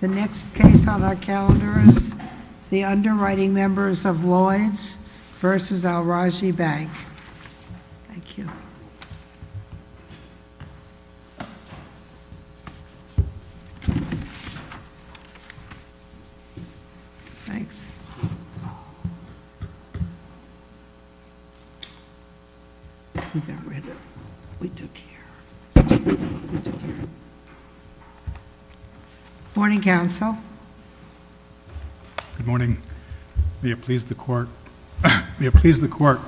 The next case on our calendar is the underwriting members of Lloyd's vs. Al-Rajhi Bank. Thank you. Thanks. Good morning, counsel. Good morning. May it please the court. May it please the court,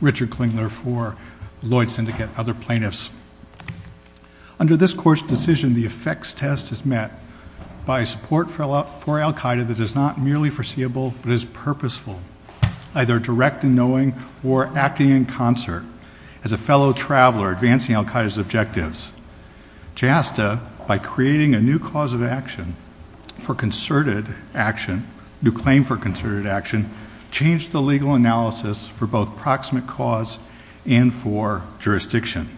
Richard Klingler, for Lloyd's Syndicate, other plaintiffs. Under this court's decision, the effects test is met by support for Al-Qaeda that is not merely foreseeable, but is purposeful, either direct in knowing or acting in concert, as a fellow traveler advancing Al-Qaeda's objectives. JASTA, by creating a new cause of action for concerted action, new claim for concerted action, changed the legal analysis for both proximate cause and for jurisdiction.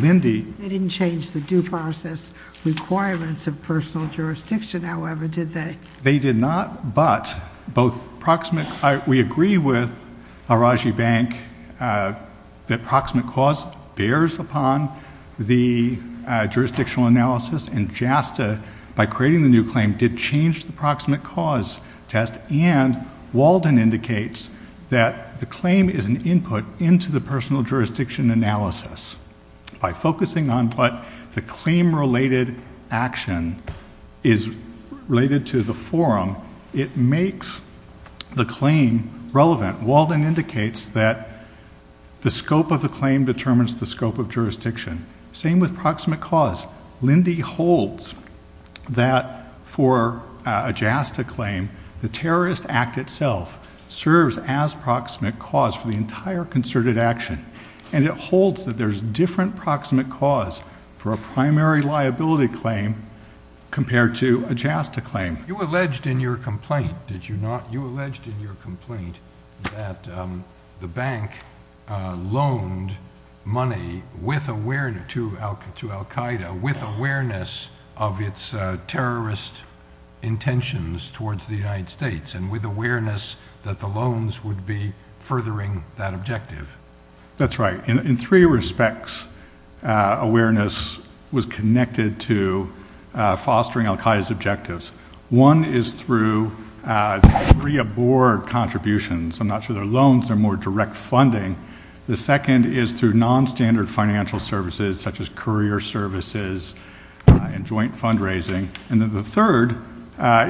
They didn't change the due process requirements of personal jurisdiction, however, did they? They did not, but both proximate—we agree with Al-Rajhi Bank that proximate cause bears upon the jurisdictional analysis, and JASTA, by creating the new claim, did change the proximate cause test, and Walden indicates that the claim is an input into the personal jurisdiction analysis. By focusing on what the claim-related action is related to the forum, it makes the claim relevant. Walden indicates that the scope of the claim determines the scope of jurisdiction. Same with proximate cause. Lindy holds that for a JASTA claim, the Terrorist Act itself serves as proximate cause for the entire concerted action, and it holds that there's different proximate cause for a primary liability claim compared to a JASTA claim. You alleged in your complaint, did you not? You alleged in your complaint that the bank loaned money to al-Qaeda with awareness of its terrorist intentions towards the United States, and with awareness that the loans would be furthering that objective. That's right. In three respects, awareness was connected to fostering al-Qaeda's objectives. One is through pre-aboard contributions. I'm not sure they're loans, they're more direct funding. The second is through non-standard financial services, such as courier services and joint fundraising. And the third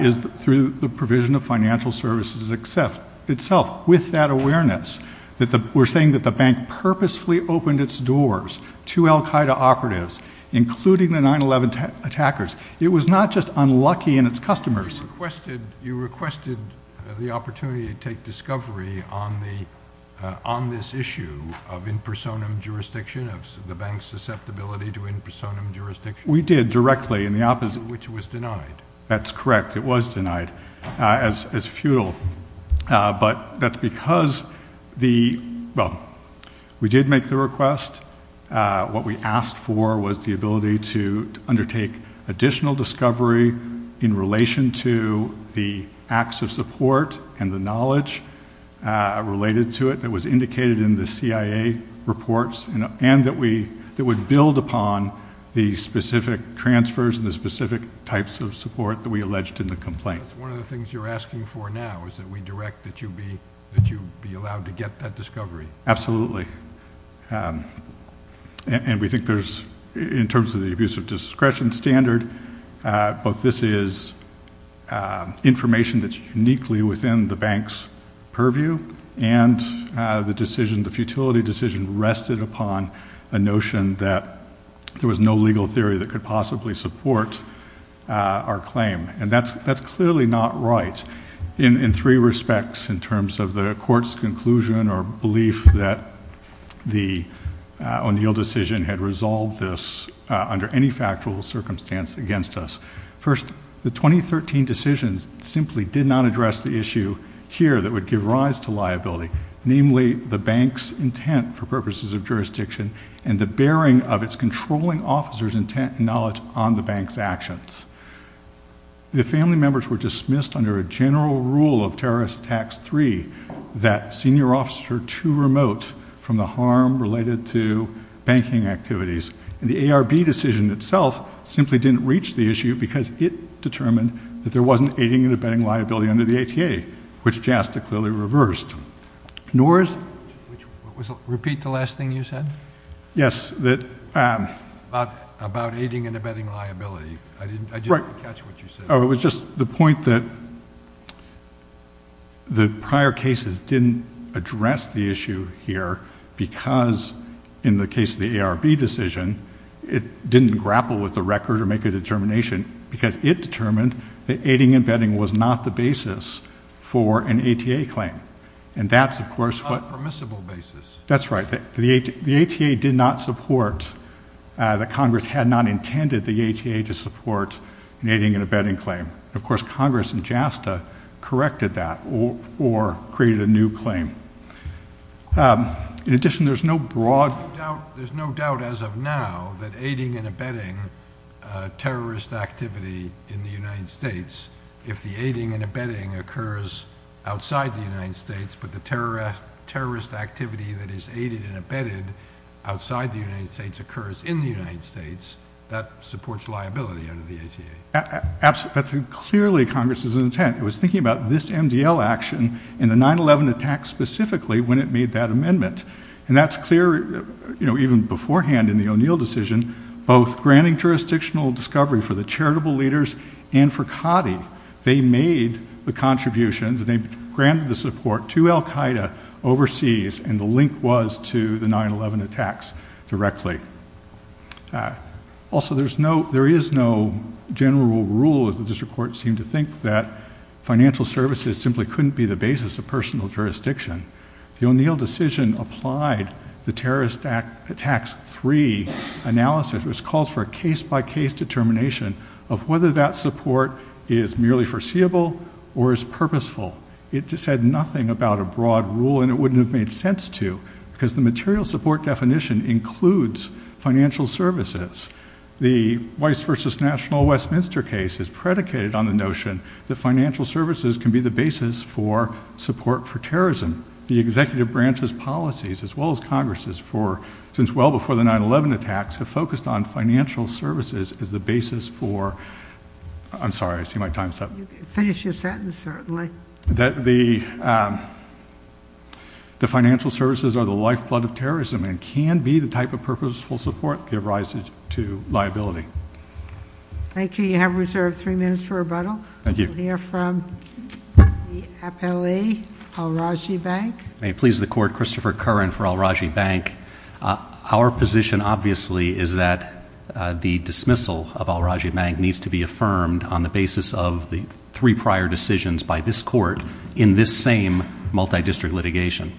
is through the provision of financial services itself, with that awareness that we're saying that the bank purposefully opened its doors to al-Qaeda operatives, including the 9-11 attackers. It was not just unlucky in its customers. You requested the opportunity to take discovery on this issue of in personam jurisdiction, of the bank's susceptibility to in personam jurisdiction? We did directly in the opposite. Which was denied. That's correct. It was denied as futile. But that's because the, well, we did make the request, what we asked for was the ability to undertake additional discovery in relation to the acts of support and the knowledge related to it that was indicated in the CIA reports, and that would build upon the specific transfers and the specific types of support that we alleged in the complaint. That's one of the things you're asking for now, is that we direct that you be allowed to get that discovery? Absolutely. And we think there's, in terms of the abuse of discretion standard, both this is information that's uniquely within the bank's purview, and the decision, the futility decision rested upon a notion that there was no legal theory that could possibly support our claim. And that's clearly not right in three respects in terms of the court's conclusion or belief that the O'Neill decision had resolved this under any factual circumstance against us. First, the 2013 decisions simply did not address the issue here that would give rise to liability. Namely, the bank's intent for purposes of jurisdiction and the bearing of its controlling officer's intent and knowledge on the bank's actions. The family members were dismissed under a general rule of terrorist tax three that senior officers are too remote from the harm related to banking activities. And the ARB decision itself simply didn't reach the issue because it determined that there wasn't aiding and abetting liability under the ATA, which JASTA clearly reversed. Nor is- Repeat the last thing you said? Yes, that- About aiding and abetting liability. I didn't catch what you said. The point that the prior cases didn't address the issue here because in the case of the ARB decision, it didn't grapple with the record or make a determination because it determined that aiding and abetting was not the basis for an ATA claim. And that's, of course, what- A permissible basis. That's right. The ATA did not support, that Congress had not intended the ATA to support an aiding and abetting claim. Of course, Congress in JASTA corrected that or created a new claim. In addition, there's no broad- There's no doubt as of now that aiding and abetting terrorist activity in the United States, if the aiding and abetting occurs outside the United States, but the terrorist activity that is aided and abetted outside the United States occurs in the United States, that supports liability under the ATA. That's clearly Congress's intent. It was thinking about this MDL action in the 9-11 attack specifically when it made that amendment. And that's clear, you know, even beforehand in the O'Neill decision, both granting jurisdictional discovery for the charitable leaders and for COTI. They made the contributions. They granted the support to Al-Qaeda overseas. And the link was to the 9-11 attacks directly. Also, there is no general rule, as the district court seemed to think, that financial services simply couldn't be the basis of personal jurisdiction. The O'Neill decision applied the terrorist attacks three analysis. It was called for a case-by-case determination of whether that support is merely foreseeable or is purposeful. It just said nothing about a broad rule, and it wouldn't have made sense to, because the material support definition includes financial services. The Weiss versus National Westminster case is predicated on the notion that financial services can be the basis for support for terrorism. The executive branch's policies, as well as Congress's, since well before the 9-11 attacks have focused on financial services as the basis for—I'm sorry, I see my time's up. You can finish your sentence, certainly. That the financial services are the lifeblood of terrorism and can be the type of purposeful support give rise to liability. Thank you. You have reserved three minutes for rebuttal. Thank you. We'll hear from the appellee, Al-Rajhi Bank. May it please the court, Christopher Curran for Al-Rajhi Bank. Our position, obviously, is that the dismissal of Al-Rajhi Bank needs to be affirmed on the basis of the three prior decisions by this court in this same multi-district litigation.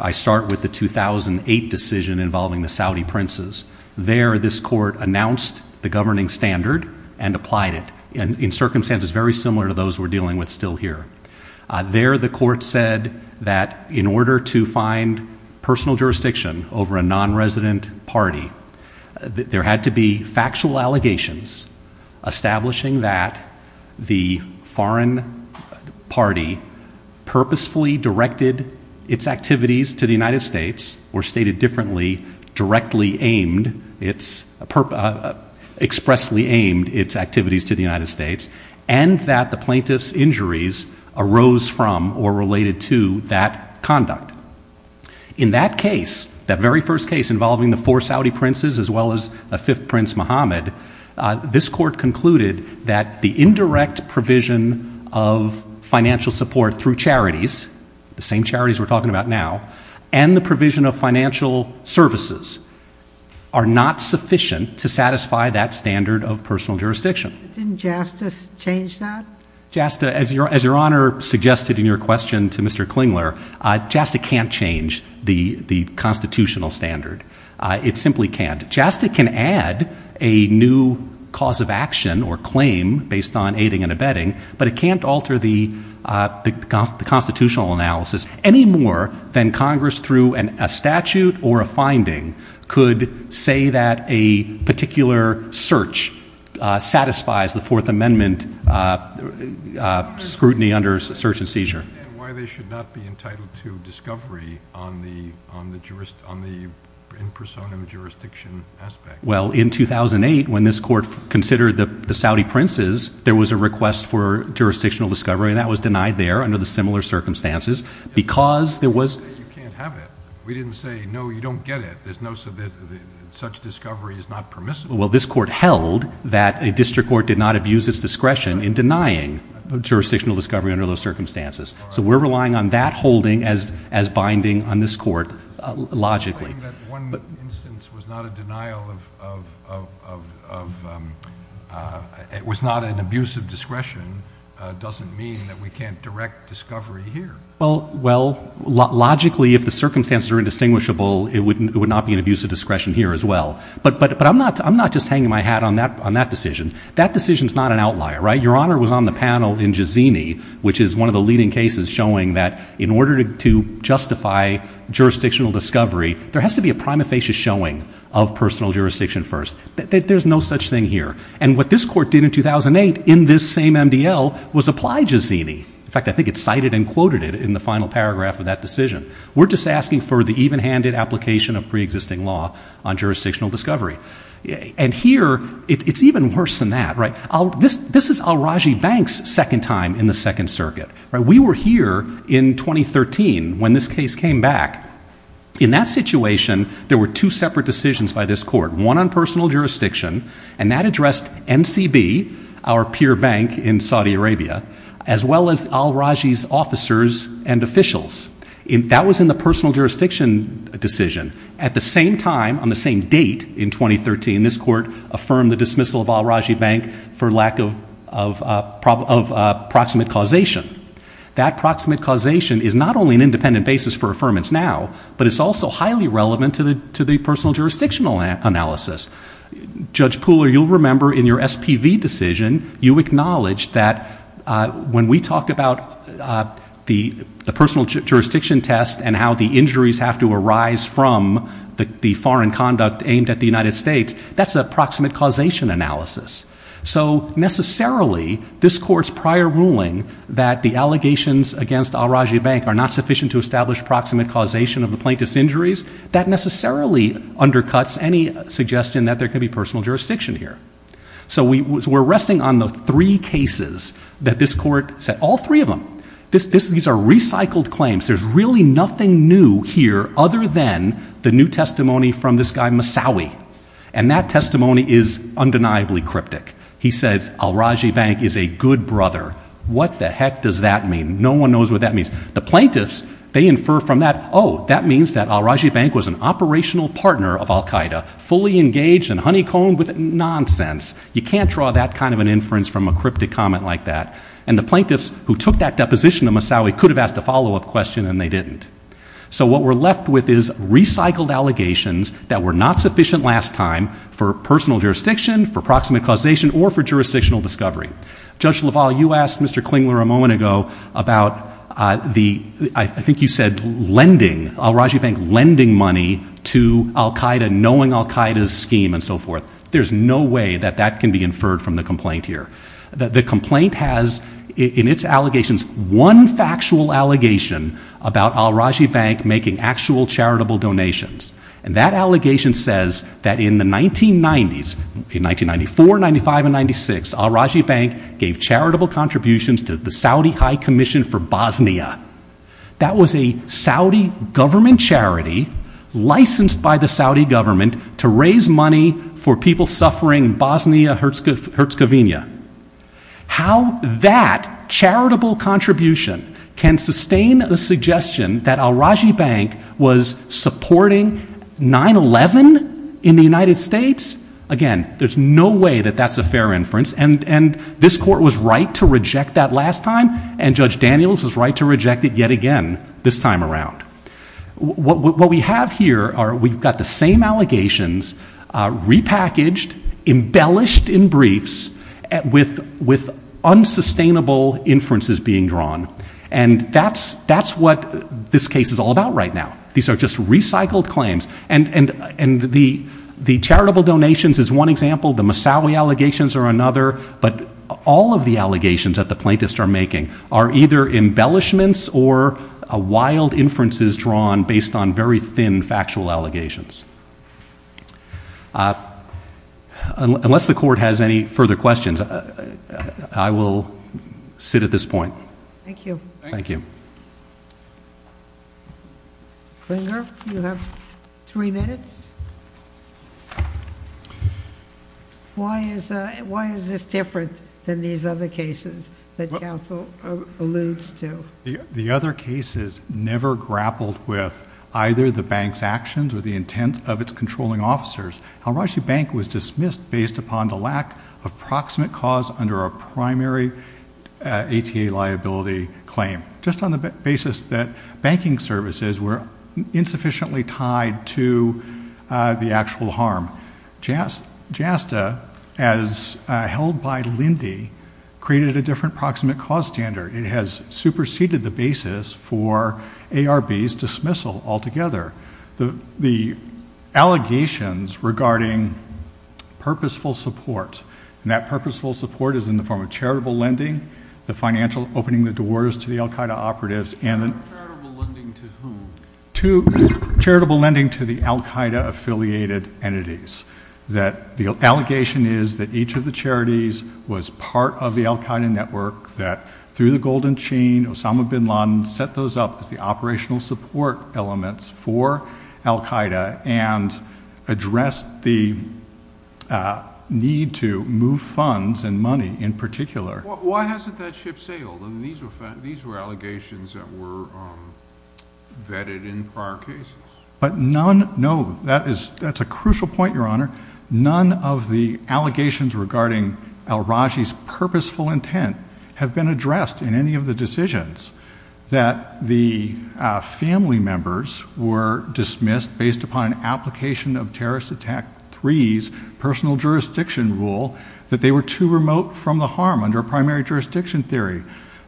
I start with the 2008 decision involving the Saudi princes. There, this court announced the governing standard and applied it in circumstances very similar to those we're dealing with still here. There, the court said that in order to find personal jurisdiction over a non-resident party, there had to be factual allegations establishing that the foreign party purposefully directed its activities to the United States, or stated differently, expressly aimed its activities to the United States, and that the plaintiff's injuries arose from or related to that conduct. In that case, that very first case involving the four Saudi princes as well as the fifth prince, Mohammed, this court concluded that the indirect provision of financial support through charities, the same charities we're talking about now, and the provision of financial services are not sufficient to satisfy that standard of personal jurisdiction. Didn't JASTA change that? JASTA, as Your Honor suggested in your question to Mr. Klingler, JASTA can't change the It simply can't. JASTA can add a new cause of action or claim based on aiding and abetting, but it can't Congress, through a statute or a finding, could say that a particular search satisfies the Fourth Amendment scrutiny under search and seizure. And why they should not be entitled to discovery on the in personam jurisdiction aspect? Well, in 2008, when this court considered the Saudi princes, there was a request for jurisdictional discovery, and that was denied there under the similar circumstances because You can't have it. We didn't say, no, you don't get it. There's no such discovery is not permissible. Well, this court held that a district court did not abuse its discretion in denying jurisdictional discovery under those circumstances. So we're relying on that holding as binding on this court logically. Claiming that one instance was not a denial of, was not an abuse of discretion doesn't mean that we can't direct discovery here. Well, logically, if the circumstances are indistinguishable, it would not be an abuse of discretion here as well. But I'm not just hanging my hat on that decision. That decision's not an outlier, right? Your Honor was on the panel in Jazini, which is one of the leading cases showing that in order to justify jurisdictional discovery, there has to be a prima facie showing of personal jurisdiction first. There's no such thing here. And what this court did in 2008 in this same MDL was apply Jazini. In fact, I think it cited and quoted it in the final paragraph of that decision. We're just asking for the evenhanded application of preexisting law on jurisdictional discovery. And here, it's even worse than that, right? This is Al-Rajhi Bank's second time in the Second Circuit. We were here in 2013 when this case came back. In that situation, there were two separate decisions by this court. One on personal jurisdiction, and that addressed MCB, our peer bank in Saudi Arabia, as well as Al-Rajhi's officers and officials. That was in the personal jurisdiction decision. At the same time, on the same date in 2013, this court affirmed the dismissal of Al-Rajhi Bank for lack of proximate causation. That proximate causation is not only an independent basis for affirmance now, but it's also highly relevant to the personal jurisdictional analysis. Judge Pooler, you'll remember in your SPV decision, you acknowledged that when we talk about the personal jurisdiction test and how the injuries have to arise from the foreign conduct aimed at the United States, that's a proximate causation analysis. So necessarily, this court's prior ruling that the allegations against Al-Rajhi Bank are not sufficient to establish proximate causation of the plaintiff's injuries, that there could be personal jurisdiction here. So we're resting on the three cases that this court said, all three of them. These are recycled claims. There's really nothing new here other than the new testimony from this guy Massawi, and that testimony is undeniably cryptic. He says Al-Rajhi Bank is a good brother. What the heck does that mean? No one knows what that means. The plaintiffs, they infer from that, oh, that means that Al-Rajhi Bank was an operational partner of Al-Qaeda, fully engaged and honeycombed with nonsense. You can't draw that kind of an inference from a cryptic comment like that. And the plaintiffs who took that deposition of Massawi could have asked a follow-up question, and they didn't. So what we're left with is recycled allegations that were not sufficient last time for personal jurisdiction, for proximate causation, or for jurisdictional discovery. Judge LaValle, you asked Mr. Klingler a moment ago about the, I think you said lending, Al-Rajhi Al-Qaeda, knowing Al-Qaeda's scheme, and so forth. There's no way that that can be inferred from the complaint here. The complaint has in its allegations one factual allegation about Al-Rajhi Bank making actual charitable donations, and that allegation says that in the 1990s, in 1994, 95, and 96, Al-Rajhi Bank gave charitable contributions to the Saudi High Commission for Bosnia. That was a Saudi government charity licensed by the Saudi government to raise money for people suffering in Bosnia Herzegovina. How that charitable contribution can sustain a suggestion that Al-Rajhi Bank was supporting 9-11 in the United States? Again, there's no way that that's a fair inference, and this court was right to reject that last time, and Judge Daniels was right to reject it yet again this time around. What we have here are we've got the same allegations repackaged, embellished in briefs, with unsustainable inferences being drawn, and that's what this case is all about right now. These are just recycled claims, and the charitable donations is one example. The Moussaoui allegations are another, but all of the allegations that the plaintiffs are making are either embellishments or wild inferences drawn based on very thin factual allegations. Unless the court has any further questions, I will sit at this point. Thank you. Thank you. Klinger, you have three minutes. Why is this different than these other cases that counsel alludes to? The other cases never grappled with either the bank's actions or the intent of its controlling officers. Al-Rajhi Bank was dismissed based upon the lack of proximate cause under a primary ATA liability claim, just on the basis that banking services were insufficiently tied to the actual harm. JASTA, as held by Lindy, created a different proximate cause standard. It has superseded the basis for ARB's dismissal altogether. The allegations regarding purposeful support, and that purposeful support is in the form of charitable lending, the financial opening the doors to the al-Qaeda operatives, and Charitable lending to whom? Charitable lending to the al-Qaeda affiliated entities. The allegation is that each of the charities was part of the al-Qaeda network that, through the golden chain, Osama bin Laden set those up as the operational support elements for al-Qaeda and addressed the need to move funds and money in particular. Why hasn't that ship sailed? These were allegations that were vetted in prior cases. But none, no, that's a crucial point, Your Honor. None of the allegations regarding al-Rajhi's purposeful intent have been addressed in any of the decisions that the family members were dismissed based upon an application of terrorist attack three's personal jurisdiction rule that they were too remote from the harm under a primary jurisdiction theory.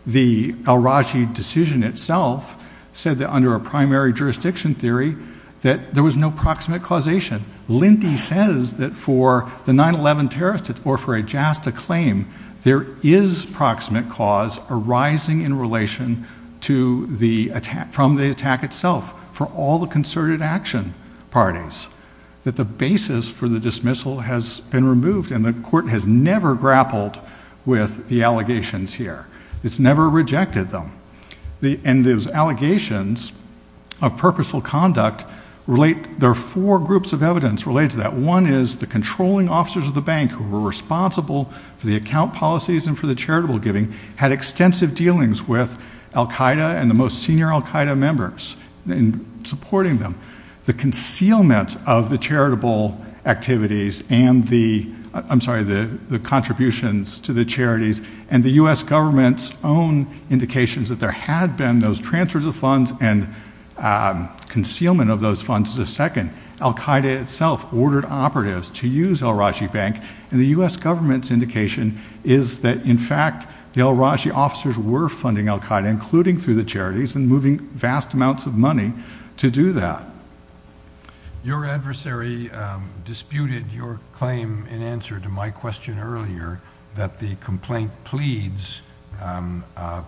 The al-Rajhi decision itself said that under a primary jurisdiction theory that there was no proximate causation. Lindy says that for the 9-11 terrorist or for a JASTA claim, there is proximate cause arising in relation from the attack itself for all the concerted action parties, that basis for the dismissal has been removed and the court has never grappled with the allegations here. It's never rejected them. And those allegations of purposeful conduct relate, there are four groups of evidence related to that. One is the controlling officers of the bank who were responsible for the account policies and for the charitable giving had extensive dealings with al-Qaeda and the most senior al-Qaeda members in supporting them. The concealment of the charitable activities and the, I'm sorry, the contributions to the charities and the U.S. Government's own indications that there had been those transfers of funds and concealment of those funds is the second. Al-Qaeda itself ordered operatives to use al-Rajhi Bank and the U.S. Government's indication is that in fact the al-Rajhi officers were funding al-Qaeda, including through the charities and moving vast amounts of money to do that. Your adversary disputed your claim in answer to my question earlier that the complaint pleads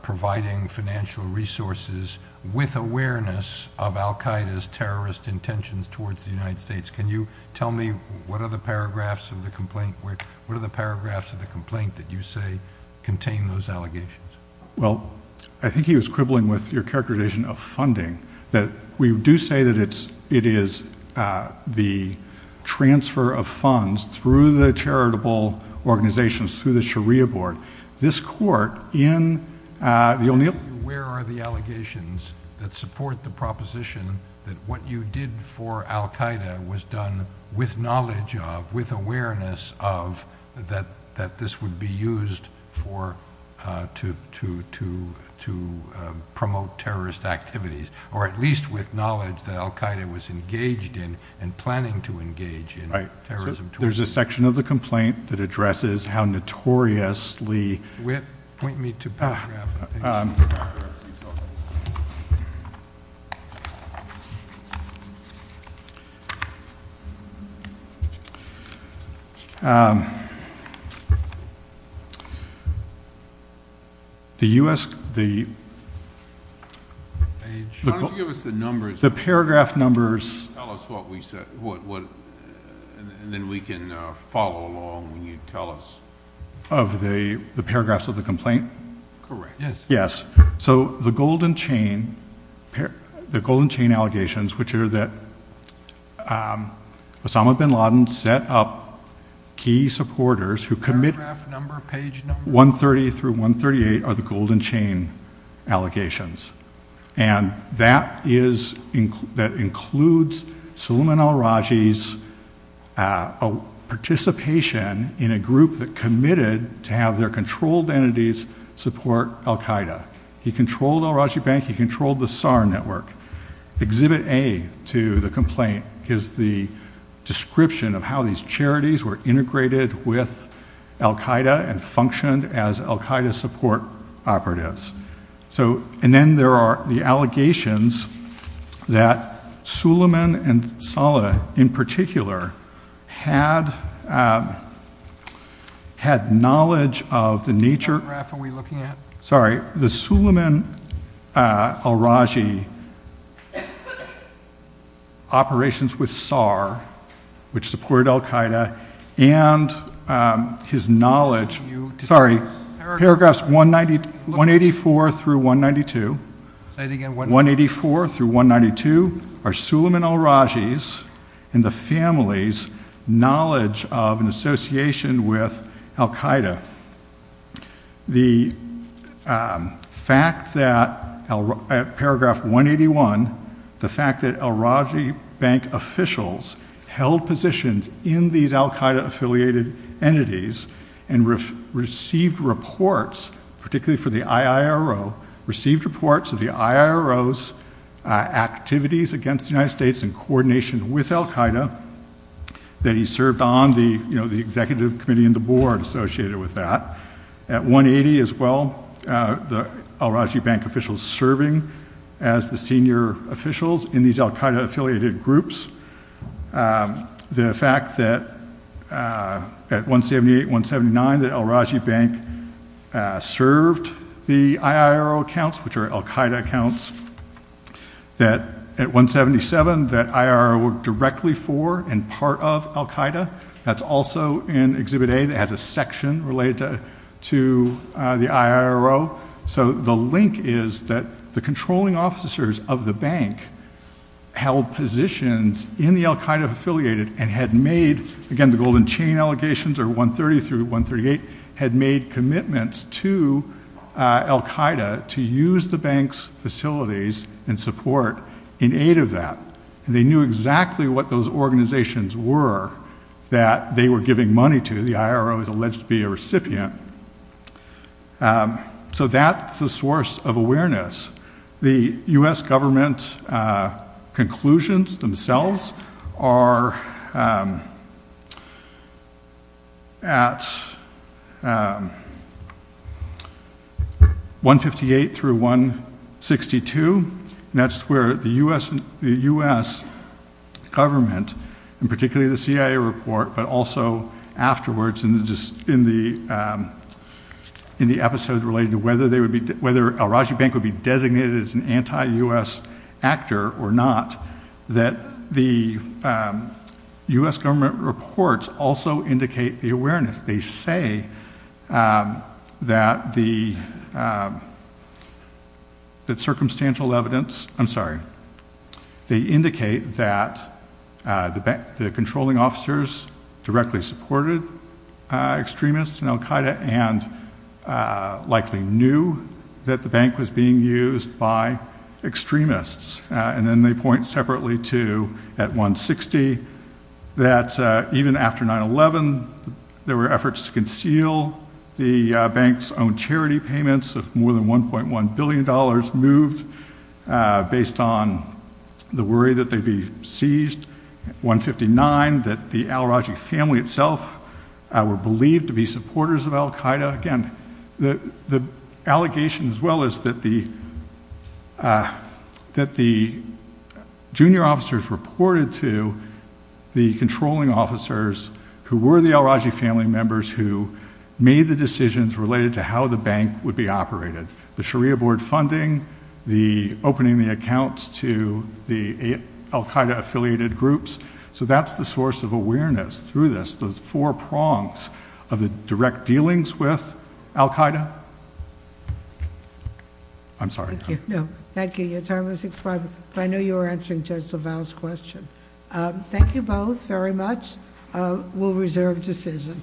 providing financial resources with awareness of al-Qaeda's terrorist intentions towards the United States. Can you tell me what are the paragraphs of the complaint where, what are the paragraphs of the complaint that you say contain those allegations? Well, I think he was quibbling with your characterization of funding. That we do say that it's, it is the transfer of funds through the charitable organizations, through the Sharia board. This court in, you'll need. Where are the allegations that support the proposition that what you did for al-Qaeda was done with knowledge of, with awareness of that, that this would be used for to, to, to promote terrorist activities, or at least with knowledge that al-Qaeda was engaged in and planning to engage in terrorism. There's a section of the complaint that addresses how notoriously. Whit, point me to paragraphs. The U.S., the. Page. Why don't you give us the numbers. The paragraph numbers. Tell us what we said, what, what, and then we can follow along when you tell us. Of the, the paragraphs of the complaint. Correct. Yes. Yes. So the golden chain, the golden chain allegations, which are that Osama bin Laden set up key supporters who commit. Paragraph number, page number. 130 through 138 are the golden chain allegations. And that is, that includes Salman al-Raji's participation in a group that committed to have their controlled entities support al-Qaeda. He controlled al-Raji bank. He controlled the SAR network. Exhibit A to the complaint is the description of how these charities were integrated with al-Qaeda and functioned as al-Qaeda support operatives. So, and then there are the allegations that Suleiman and Saleh in particular had, had knowledge of the nature. What paragraph are we looking at? Sorry. The Suleiman al-Raji operations with SAR, which supported al-Qaeda and his knowledge. Sorry. Paragraphs 184 through 192. Say it again. 184 through 192 are Suleiman al-Raji's and the family's knowledge of an association with al-Qaeda. The fact that, paragraph 181, the fact that al-Raji bank officials held positions in these al-Qaeda affiliated entities and received reports, particularly for the IIRO, received reports of the IIRO's activities against the United States in coordination with al-Qaeda that he served on the, you know, the executive committee and the board associated with that. At 180 as well, the al-Raji bank officials serving as the senior officials in these al-Qaeda affiliated groups. The fact that at 178, 179, that al-Raji bank served the IIRO accounts, which are al-Qaeda accounts, that at 177 that IIRO worked directly for and part of al-Qaeda. That's also in Exhibit A that has a section related to the IIRO. So the link is that the controlling officers of the bank held positions in the al-Qaeda affiliated and had made, again, the golden chain allegations are 130 through 138, had made commitments to al-Qaeda to use the bank's facilities and support in aid of that. They knew exactly what those organizations were that they were giving money to. The IRO is alleged to be a recipient. So that's a source of awareness. The U.S. government conclusions themselves are at 158 through 162. And that's where the U.S. government, and particularly the CIA report, but also afterwards in the episode relating to whether al-Raji bank would be designated as an anti-U.S. actor or not, that the U.S. government reports also indicate the awareness. They say that the circumstantial evidence, I'm sorry, they indicate that the controlling officers directly supported extremists in al-Qaeda and likely knew that the bank was being used by extremists. And then they point separately to, at 160, that even after 9-11, there were efforts to conceal the bank's own charity payments of more than $1.1 billion moved based on the worry that they'd be seized, 159, that the al-Raji family itself were believed to be supporters of al-Qaeda. Again, the allegation as well is that the junior officers reported to the controlling officers who were the al-Raji family members who made the decisions related to how the bank would be operated. The Sharia Board funding, the opening the accounts to the al-Qaeda affiliated groups, so that's the source of awareness through this, those four prongs of the direct dealings with al-Qaeda. I'm sorry. Thank you. Your time has expired, but I know you were answering Judge LaValle's question. Thank you both very much. We'll reserve decision.